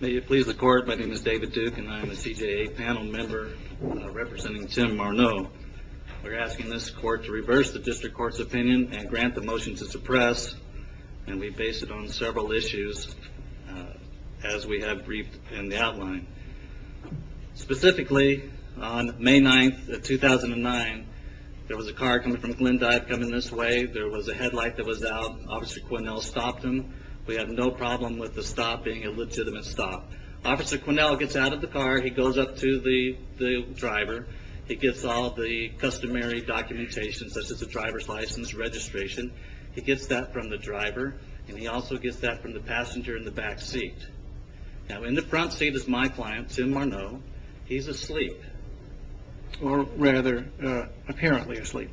May it please the court, my name is David Duke and I am a CJA panel member representing Tim Morneau. We're asking this court to reverse the district court's opinion and grant the motion to suppress, and we base it on several issues as we have briefed in the outline. Specifically, on May 9, 2009, there was a car coming from Glendive coming this way. There was a headlight that was out. Officer Quinnell stopped him. We have no problem with the stop being a legitimate stop. Officer Quinnell gets out of the car. He goes up to the driver. He gets all the customary documentation, such as the driver's license, registration. He gets that from the driver, and he also gets that from the passenger in the back seat. Now, in the front seat is my client, Tim Morneau. He's asleep, or rather, apparently asleep.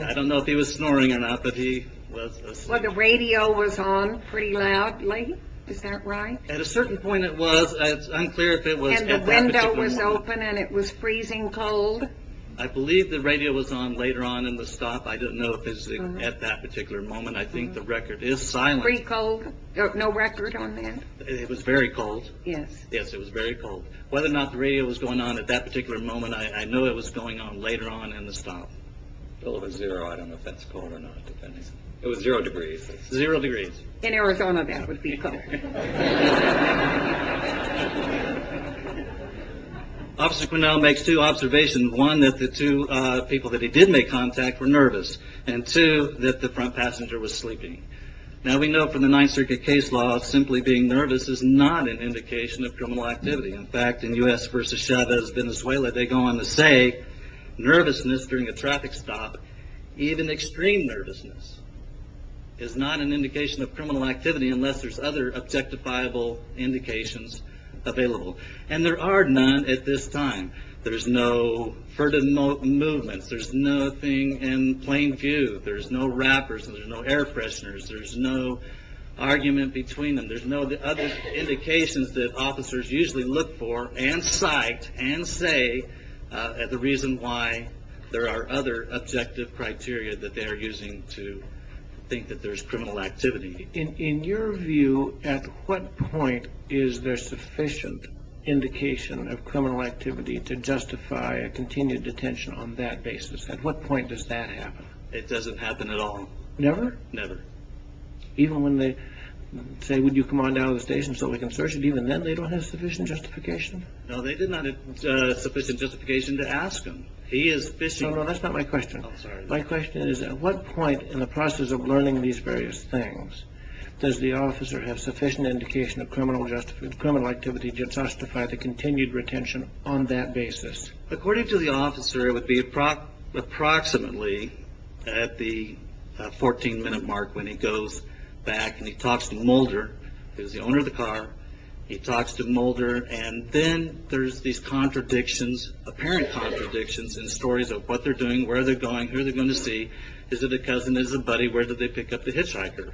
I don't know if he was snoring or not, but he was asleep. Well, the radio was on pretty loudly. Is that right? At a certain point, it was. It's unclear if it was at that particular moment. And the window was open, and it was freezing cold? I believe the radio was on later on in the stop. I don't know if it was at that particular moment. I think the record is silent. Free cold? No record on that? It was very cold. Yes. Yes, it was very cold. Whether or not the radio was going on at that particular moment, I know it was going on later on in the stop. Well, it was zero. I don't know if that's cold or not, depending. It was zero degrees. Zero degrees. In Arizona, that would be cold. Officer Cornell makes two observations. One, that the two people that he did make contact were nervous. And two, that the front passenger was sleeping. Now, we know from the Ninth Circuit case law, simply being nervous is not an indication of criminal activity. In fact, in U.S. versus Chavez Venezuela, they go on to say, nervousness during a traffic stop, even extreme nervousness, is not an indication of criminal activity unless there's other objectifiable indications available. And there are none at this time. There's no furtive movements. There's nothing in plain view. There's no rappers. There's no air fresheners. There's no argument between them. There's no other indications that officers usually look for, and cite, and say, the reason why there are other objective criteria that they're using to think that there's criminal activity. In your view, at what point is there sufficient indication of criminal activity to justify a continued detention on that basis? At what point does that happen? It doesn't happen at all. Never? Never. Even when they say, would you come on down to the station so we can search you, even then they don't have sufficient justification? No, they did not have sufficient justification to ask him. He is fishing. No, no, that's not my question. My question is, at what point in the process of learning these various things does the officer have sufficient indication of criminal activity to justify the continued retention on that basis? According to the officer, it would be approximately at the 14-minute mark when he goes back and he talks to Mulder, who's the owner of the car, he talks to Mulder, and then there's these apparent contradictions in stories of what they're doing, where they're going, who they're going to see, is it a cousin, is it a buddy, where did they pick up the hitchhiker?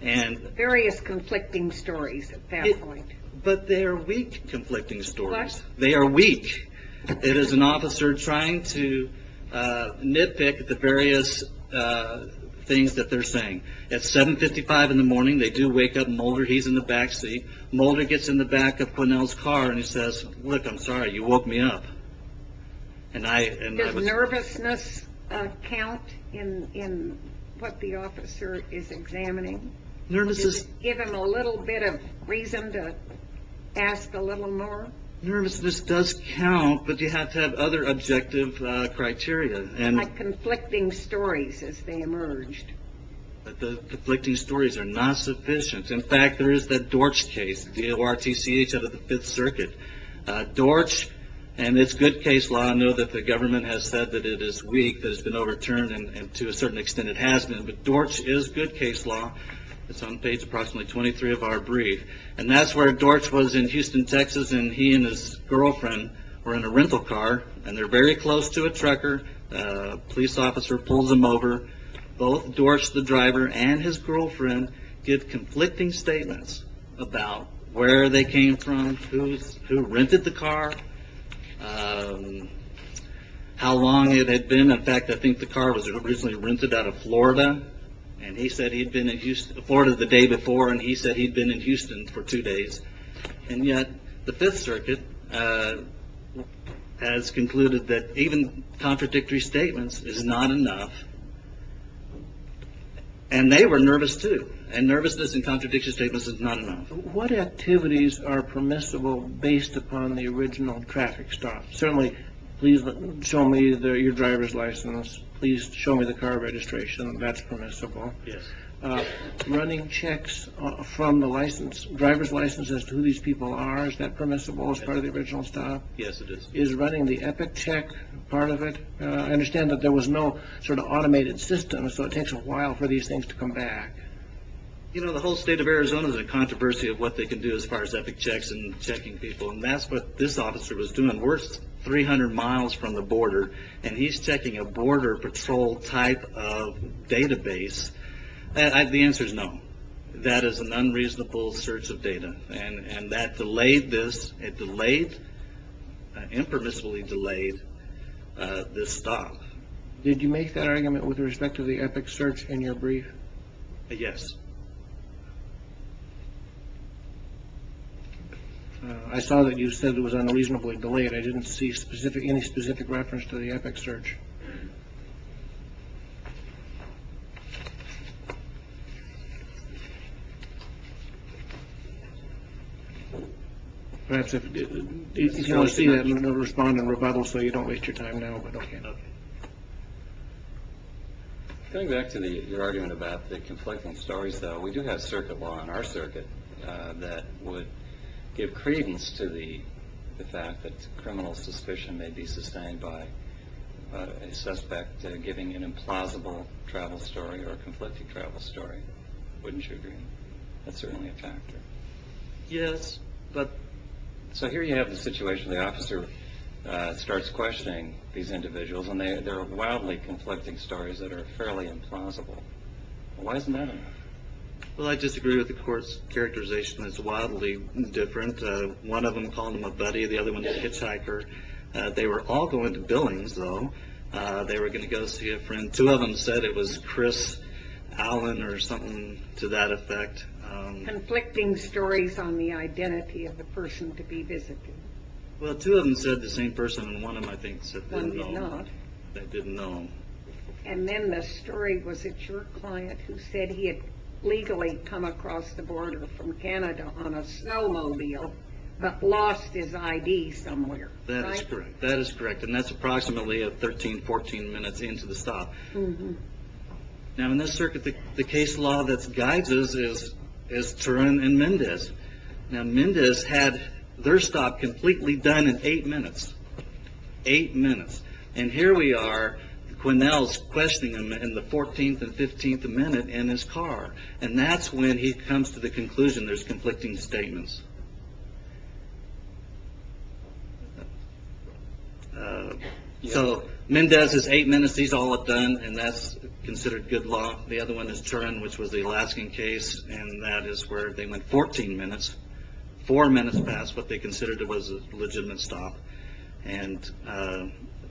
Various conflicting stories at that point. But they are weak conflicting stories. What? They are weak. It is an officer trying to nitpick the various things that they're saying. At 7.55 in the morning, they do wake up Mulder. He's in the back seat. Mulder gets in the back of Quinnell's car and he says, look, I'm sorry, you woke me up. Does nervousness count in what the officer is examining? Does it give him a little bit of reason to ask a little more? Nervousness does count, but you have to have other objective criteria. Like conflicting stories as they emerged. The conflicting stories are not sufficient. In fact, there is that Dortch case, D-O-R-T-C-H out of the Fifth Circuit. Dortch, and it's good case law. I know that the government has said that it is weak, that it's been overturned, and to a certain extent it has been. But Dortch is good case law. It's on page approximately 23 of our brief. And that's where Dortch was in Houston, Texas, and he and his girlfriend were in a rental car, and they're very close to a trucker. A police officer pulls them over. Both Dortch, the driver, and his girlfriend, give conflicting statements about where they came from, who rented the car, how long it had been. In fact, I think the car was originally rented out of Florida, and he said he'd been in Houston, Florida the day before, and he said he'd been in Houston for two days. And yet the Fifth Circuit has concluded that even contradictory statements is not enough. And they were nervous, too. And nervousness in contradictory statements is not enough. What activities are permissible based upon the original traffic stop? Certainly, please show me your driver's license. Please show me the car registration. That's permissible. Running checks from the license. Driver's license as to who these people are, is that permissible as part of the original stop? Yes, it is. Is running the epic check part of it? I understand that there was no sort of automated system, so it takes a while for these things to come back. You know, the whole state of Arizona is in controversy of what they can do as far as epic checks and checking people, and that's what this officer was doing. We're 300 miles from the border, and he's checking a border patrol type of database. The answer is no. That is an unreasonable search of data. And that delayed this. It delayed, impermissibly delayed, this stop. Did you make that argument with respect to the epic search in your brief? Yes. I saw that you said it was unreasonably delayed. I didn't see any specific reference to the epic search. Perhaps if you can see that and respond in rebuttal, so you don't waste your time now. Going back to your argument about the conflicting stories, though, we do have circuit law in our circuit that would give credence to the fact that criminal suspicion may be sustained by a suspect giving an implausible travel story or a conflicting travel story. Wouldn't you agree? That's certainly a factor. Yes. So here you have the situation. The officer starts questioning these individuals, and there are wildly conflicting stories that are fairly implausible. Why isn't that enough? Well, I disagree with the court's characterization. It's wildly different. One of them called him a buddy. The other one's a hitchhiker. They were all going to Billings, though. They were going to go see a friend. Two of them said it was Chris Allen or something to that effect. Conflicting stories on the identity of the person to be visited. Well, two of them said the same person, and one of them, I think, said they didn't know him. They didn't know him. And then the story, was it your client, who said he had legally come across the border from Canada on a snowmobile but lost his ID somewhere? That is correct. And that's approximately 13, 14 minutes into the stop. Now, in this circuit, the case law that guides us is Turin and Mendez. Now, Mendez had their stop completely done in eight minutes. Eight minutes. And here we are, Quinnell's questioning him in the 14th and 15th minute in his car. And that's when he comes to the conclusion there's conflicting statements. So Mendez is eight minutes. He's all done, and that's considered good law. The other one is Turin, which was the Alaskan case, and that is where they went 14 minutes. Four minutes passed. What they considered was a legitimate stop. And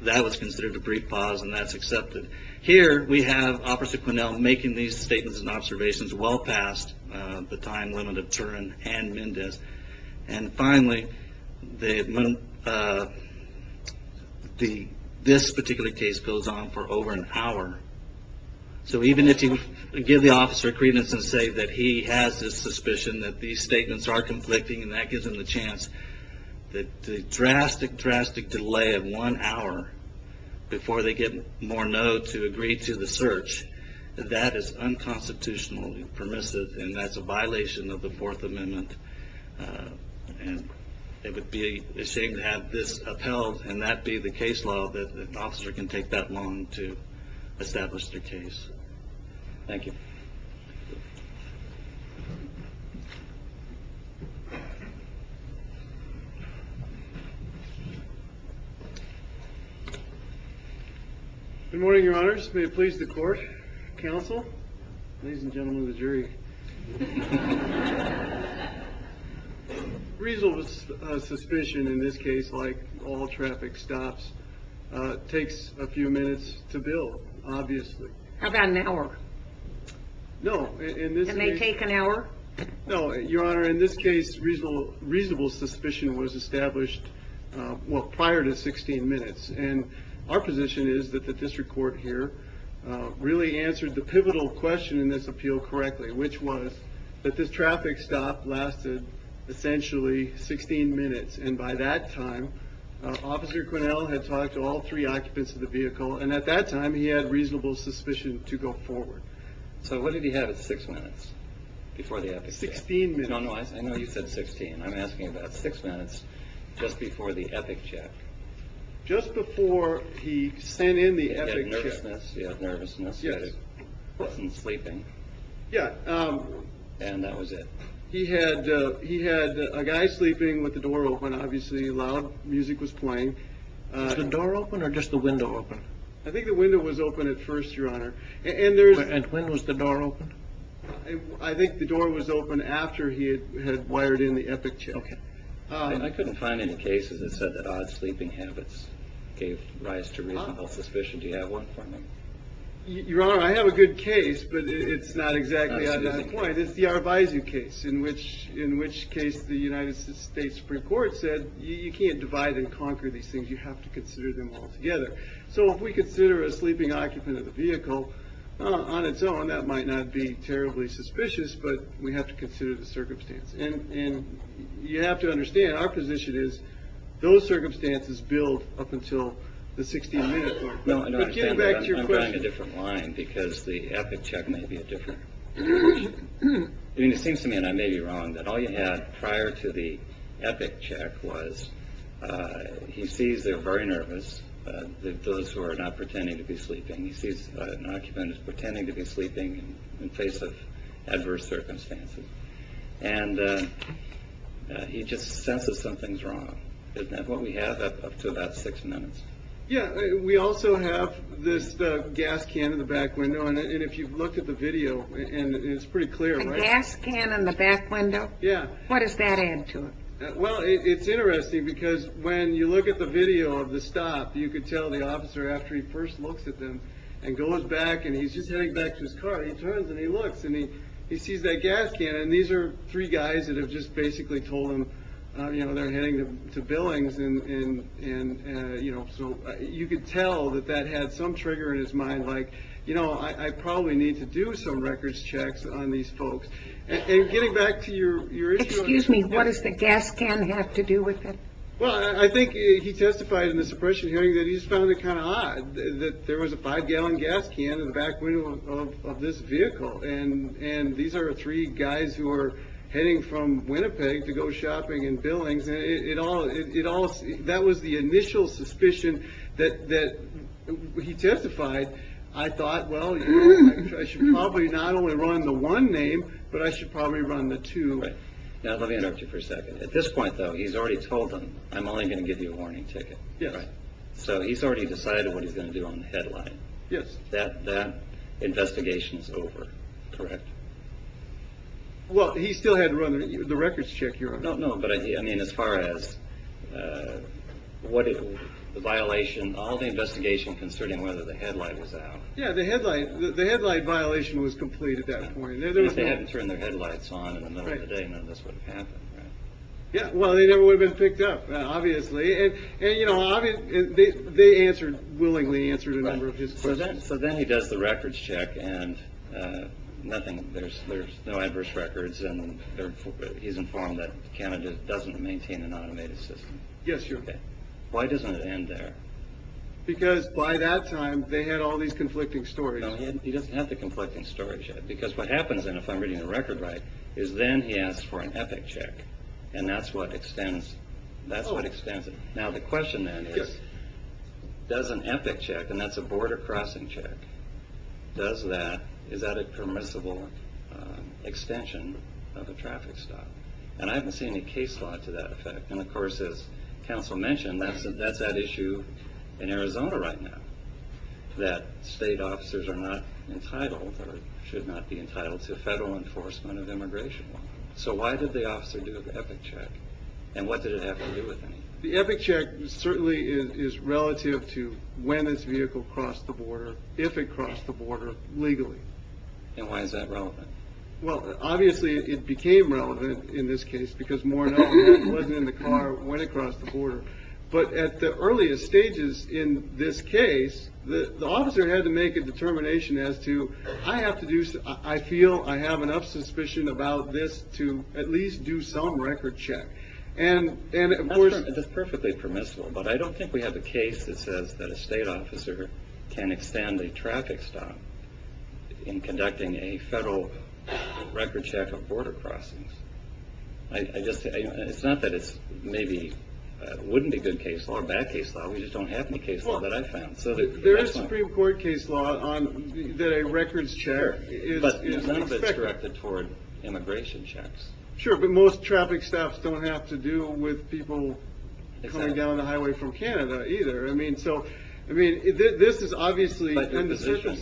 that was considered a brief pause, and that's accepted. Here we have Officer Quinnell making these statements and observations well past the time limit of Turin and Mendez. And finally, this particular case goes on for over an hour. So even if you give the officer credence and say that he has this suspicion that these statements are conflicting, and that gives him the chance, the drastic, drastic delay of one hour before they get more no to agree to the search, that is unconstitutional and permissive, and that's a violation of the Fourth Amendment. And it would be a shame to have this upheld, and that be the case law that an officer can take that long to establish their case. Thank you. Good morning, Your Honors. May it please the court, counsel, ladies and gentlemen of the jury. Reasonable suspicion in this case, like all traffic stops, takes a few minutes to build, obviously. How about an hour? No. It may take an hour. No, Your Honor. In this case, reasonable suspicion was established prior to 16 minutes. And our position is that the district court here really answered the pivotal question in this appeal correctly, which was that this traffic stop lasted essentially 16 minutes. And by that time, Officer Quinnell had talked to all three occupants of the vehicle, and at that time he had reasonable suspicion to go forward. So what did he have at 6 minutes before the epic check? 16 minutes. I know you said 16. I'm asking about 6 minutes just before the epic check. Just before he sent in the epic check. Nervousness. Yeah, nervousness. Yes. He wasn't sleeping. Yeah. And that was it. He had a guy sleeping with the door open, obviously. Loud music was playing. Was the door open or just the window open? I think the window was open at first, Your Honor. And when was the door open? I think the door was open after he had wired in the epic check. Okay. I couldn't find any cases that said that odd sleeping habits gave rise to reasonable suspicion. Do you have one for me? Your Honor, I have a good case, but it's not exactly on that point. It's the Arvizu case, in which case the United States Supreme Court said, you can't divide and conquer these things. You have to consider them all together. So if we consider a sleeping occupant of the vehicle on its own, that might not be terribly suspicious, but we have to consider the circumstance. And you have to understand, our position is those circumstances build up until the 60 minute mark. But get back to your question. I'm drawing a different line because the epic check may be a different question. I mean, it seems to me, and I may be wrong, that all you had prior to the epic check was he sees they're very nervous, those who are not pretending to be sleeping. He sees an occupant who's pretending to be sleeping in face of adverse circumstances. And he just senses something's wrong. And what we have up to about six minutes. Yeah. We also have this gas can in the back window. And if you look at the video, and it's pretty clear. A gas can in the back window? Yeah. What does that add to it? Well, it's interesting because when you look at the video of the stop, you could tell the officer after he first looks at them, and goes back and he's just heading back to his car, he turns and he looks and he sees that gas can. And these are three guys that have just basically told him they're heading to Billings. And so you could tell that that had some trigger in his mind. Like, you know, I probably need to do some records checks on these folks. And getting back to your issue. Excuse me, what does the gas can have to do with it? Well, I think he testified in the suppression hearing that he just found it kind of odd that there was a five-gallon gas can in the back window of this vehicle. And these are three guys who are heading from Winnipeg to go shopping in Billings. That was the initial suspicion that he testified. I thought, well, you know, I should probably not only run the one name, but I should probably run the two. Right. Now, let me interrupt you for a second. At this point, though, he's already told them, I'm only going to give you a warning ticket. Yes. So he's already decided what he's going to do on the headlight. Yes. That investigation is over, correct? Well, he still had to run the records check. No, no, but I mean, as far as the violation, all the investigation concerning whether the headlight was out. Yeah, the headlight violation was complete at that point. At least they hadn't turned their headlights on. At the end of the day, none of this would have happened, right? Yeah, well, they never would have been picked up, obviously. And, you know, they answered, willingly answered a number of his questions. So then he does the records check, and there's no adverse records, and he's informed that Canada doesn't maintain an automated system. Yes, sir. Why doesn't it end there? Because by that time, they had all these conflicting stories. No, he doesn't have the conflicting stories yet. Because what happens, and if I'm reading the record right, is then he asks for an epic check, and that's what extends it. Now, the question then is, does an epic check, and that's a border crossing check, is that a permissible extension of a traffic stop? And I haven't seen any case law to that effect. And, of course, as counsel mentioned, that's at issue in Arizona right now, that state officers are not entitled, or should not be entitled, to federal enforcement of immigration law. So why did the officer do the epic check? And what did it have to do with anything? The epic check certainly is relative to when this vehicle crossed the border, if it crossed the border, legally. And why is that relevant? Well, obviously, it became relevant in this case, because more or less, it wasn't in the car when it crossed the border. But at the earliest stages in this case, the officer had to make a determination as to, I feel I have enough suspicion about this to at least do some record check. And, of course... That's perfectly permissible, but I don't think we have a case that says that a state officer can extend a traffic stop in conducting a federal record check of border crossings. It's not that it's maybe... It wouldn't be good case law or bad case law, we just don't have any case law that I've found. There is Supreme Court case law that a records check... But it's directed toward immigration checks. Sure, but most traffic stops don't have to do with people coming down the highway from Canada, either. I mean, this is obviously... But the position...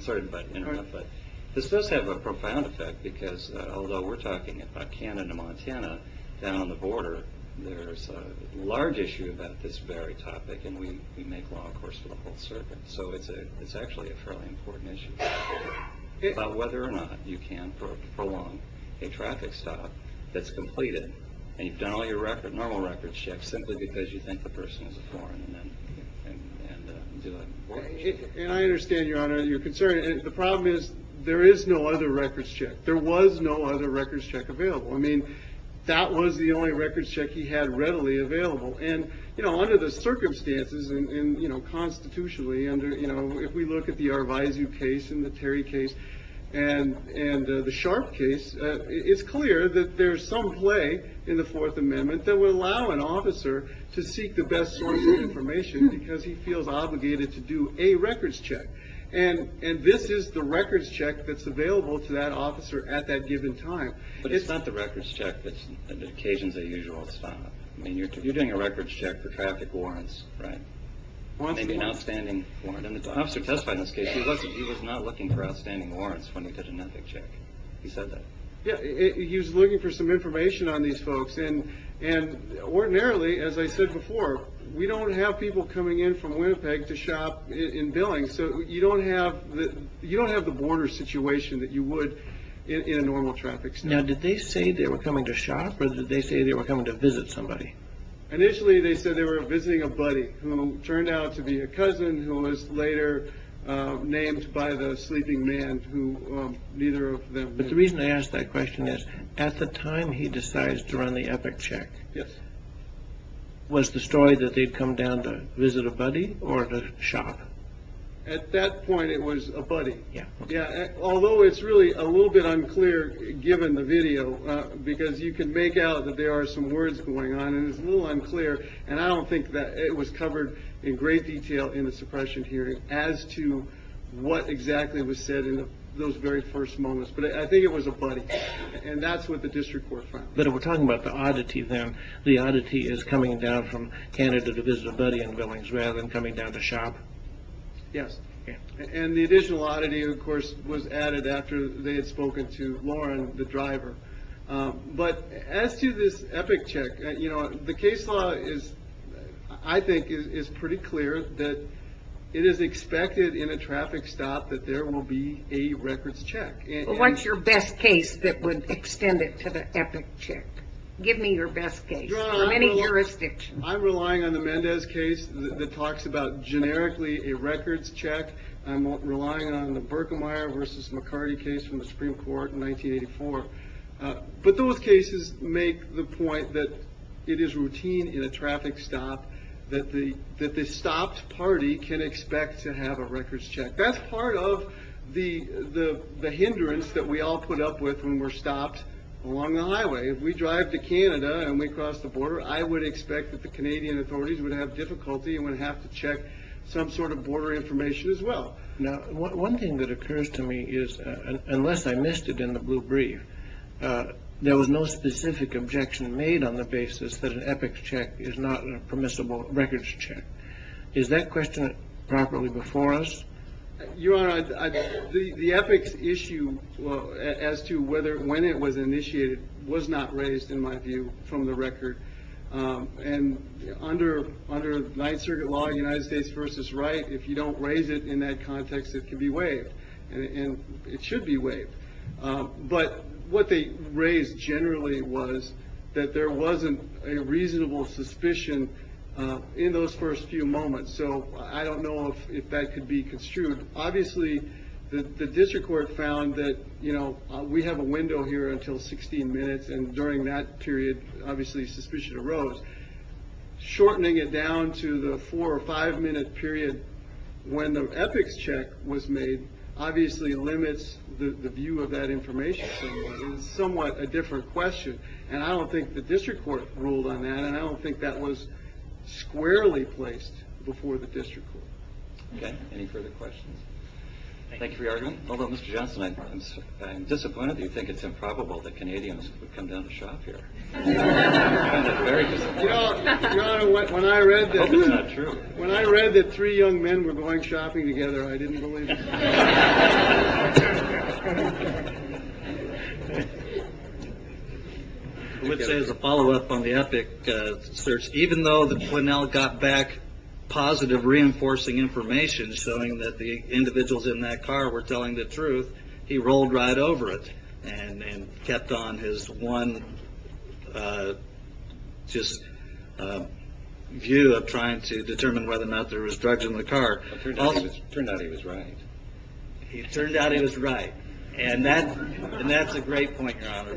Sorry, but this does have a profound effect, because although we're talking about Canada, Montana, down on the border, there's a large issue about this very topic, and we make law, of course, for the whole circuit. So it's actually a fairly important issue. About whether or not you can prolong a traffic stop that's completed, and you've done all your normal records checks simply because you think the person is a foreign and do a record check. And I understand, Your Honor, your concern. The problem is there is no other records check. There was no other records check available. I mean, that was the only records check he had readily available. And under the circumstances and constitutionally, if we look at the Arvizu case and the Terry case and the Sharp case, it's clear that there's some play in the Fourth Amendment that would allow an officer to seek the best source of information because he feels obligated to do a records check. And this is the records check that's available to that officer at that given time. But it's not the records check that's an occasion as usual. It's not. I mean, you're doing a records check for traffic warrants, right? Maybe an outstanding warrant. An officer testified in this case. He was not looking for outstanding warrants when he did an ethic check. He said that. Yeah, he was looking for some information on these folks. And ordinarily, as I said before, we don't have people coming in from Winnipeg to shop in Billings. So you don't have the border situation that you would in a normal traffic. Now, did they say they were coming to shop or did they say they were coming to visit somebody? Initially, they said they were visiting a buddy who turned out to be a cousin who was later named by the sleeping man who neither of them. But the reason I ask that question is at the time he decides to run the ethic check. Yes. Was the story that they'd come down to visit a buddy or to shop at that point? It was a buddy. Yeah. Yeah. Although it's really a little bit unclear, given the video, because you can make out that there are some words going on and it's a little unclear. And I don't think that it was covered in great detail in the suppression hearing as to what exactly was said in those very first moments. But I think it was a buddy. And that's what the district court. But if we're talking about the oddity, then the oddity is coming down from Canada to visit a buddy in Billings rather than coming down to shop. Yes. And the additional oddity, of course, was added after they had spoken to Lauren, the driver. But as to this ethic check, you know, the case law is, I think, is pretty clear that it is expected in a traffic stop that there will be a records check. What's your best case that would extend it to the ethic check? Give me your best case from any jurisdiction. I'm relying on the Mendez case that talks about generically a records check. I'm relying on the Berkemeyer versus McCarty case from the Supreme Court in 1984. But those cases make the point that it is routine in a traffic stop that the stopped party can expect to have a records check. That's part of the hindrance that we all put up with when we're stopped along the highway. If we drive to Canada and we cross the border, I would expect that the Canadian authorities would have difficulty and would have to check some sort of border information as well. Now, one thing that occurs to me is unless I missed it in the blue brief, there was no specific objection made on the basis that an ethic check is not a permissible records check. Is that question properly before us? Your Honor, the ethics issue as to when it was initiated was not raised, in my view, from the record. And under Ninth Circuit law, United States versus Wright, if you don't raise it in that context, it can be waived. And it should be waived. But what they raised generally was that there wasn't a reasonable suspicion in those first few moments. So I don't know if that could be construed. Obviously, the district court found that we have a window here until 16 minutes, and during that period, obviously, suspicion arose. Shortening it down to the four or five minute period when the ethics check was made obviously limits the view of that information. It's somewhat a different question. And I don't think the district court ruled on that, and I don't think that was squarely placed before the district court. Okay. Any further questions? Thank you for your argument. Although, Mr. Johnson, I'm disappointed. You think it's improbable that Canadians would come down to shop here. Very. You know what? When I read that it's not true. When I read that three young men were going shopping together, I didn't believe. There's a follow up on the epic search. Even though the twin now got back positive, reinforcing information, showing that the individuals in that car were telling the truth. He rolled right over it and kept on his one view of trying to determine whether or not there was drugs in the car. It turned out he was right. It turned out he was right. And that's a great point, Your Honor,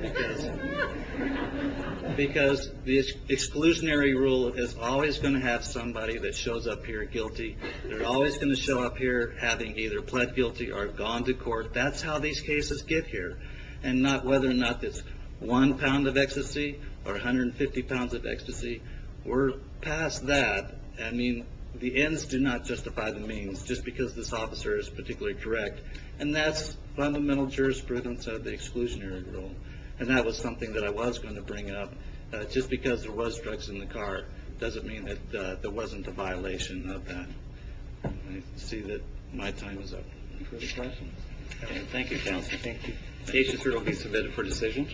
because the exclusionary rule is always going to have somebody that shows up here guilty. They're always going to show up here having either pled guilty or gone to court. That's how these cases get here, and not whether or not it's one pound of ecstasy or 150 pounds of ecstasy. We're past that. I mean, the ends do not justify the means, just because this officer is particularly correct. And that's fundamental jurisprudence of the exclusionary rule, and that was something that I was going to bring up. Just because there was drugs in the car doesn't mean that there wasn't a violation of that. I see that my time is up. Thank you, Counselor. Thank you. Patients are to be submitted for decision.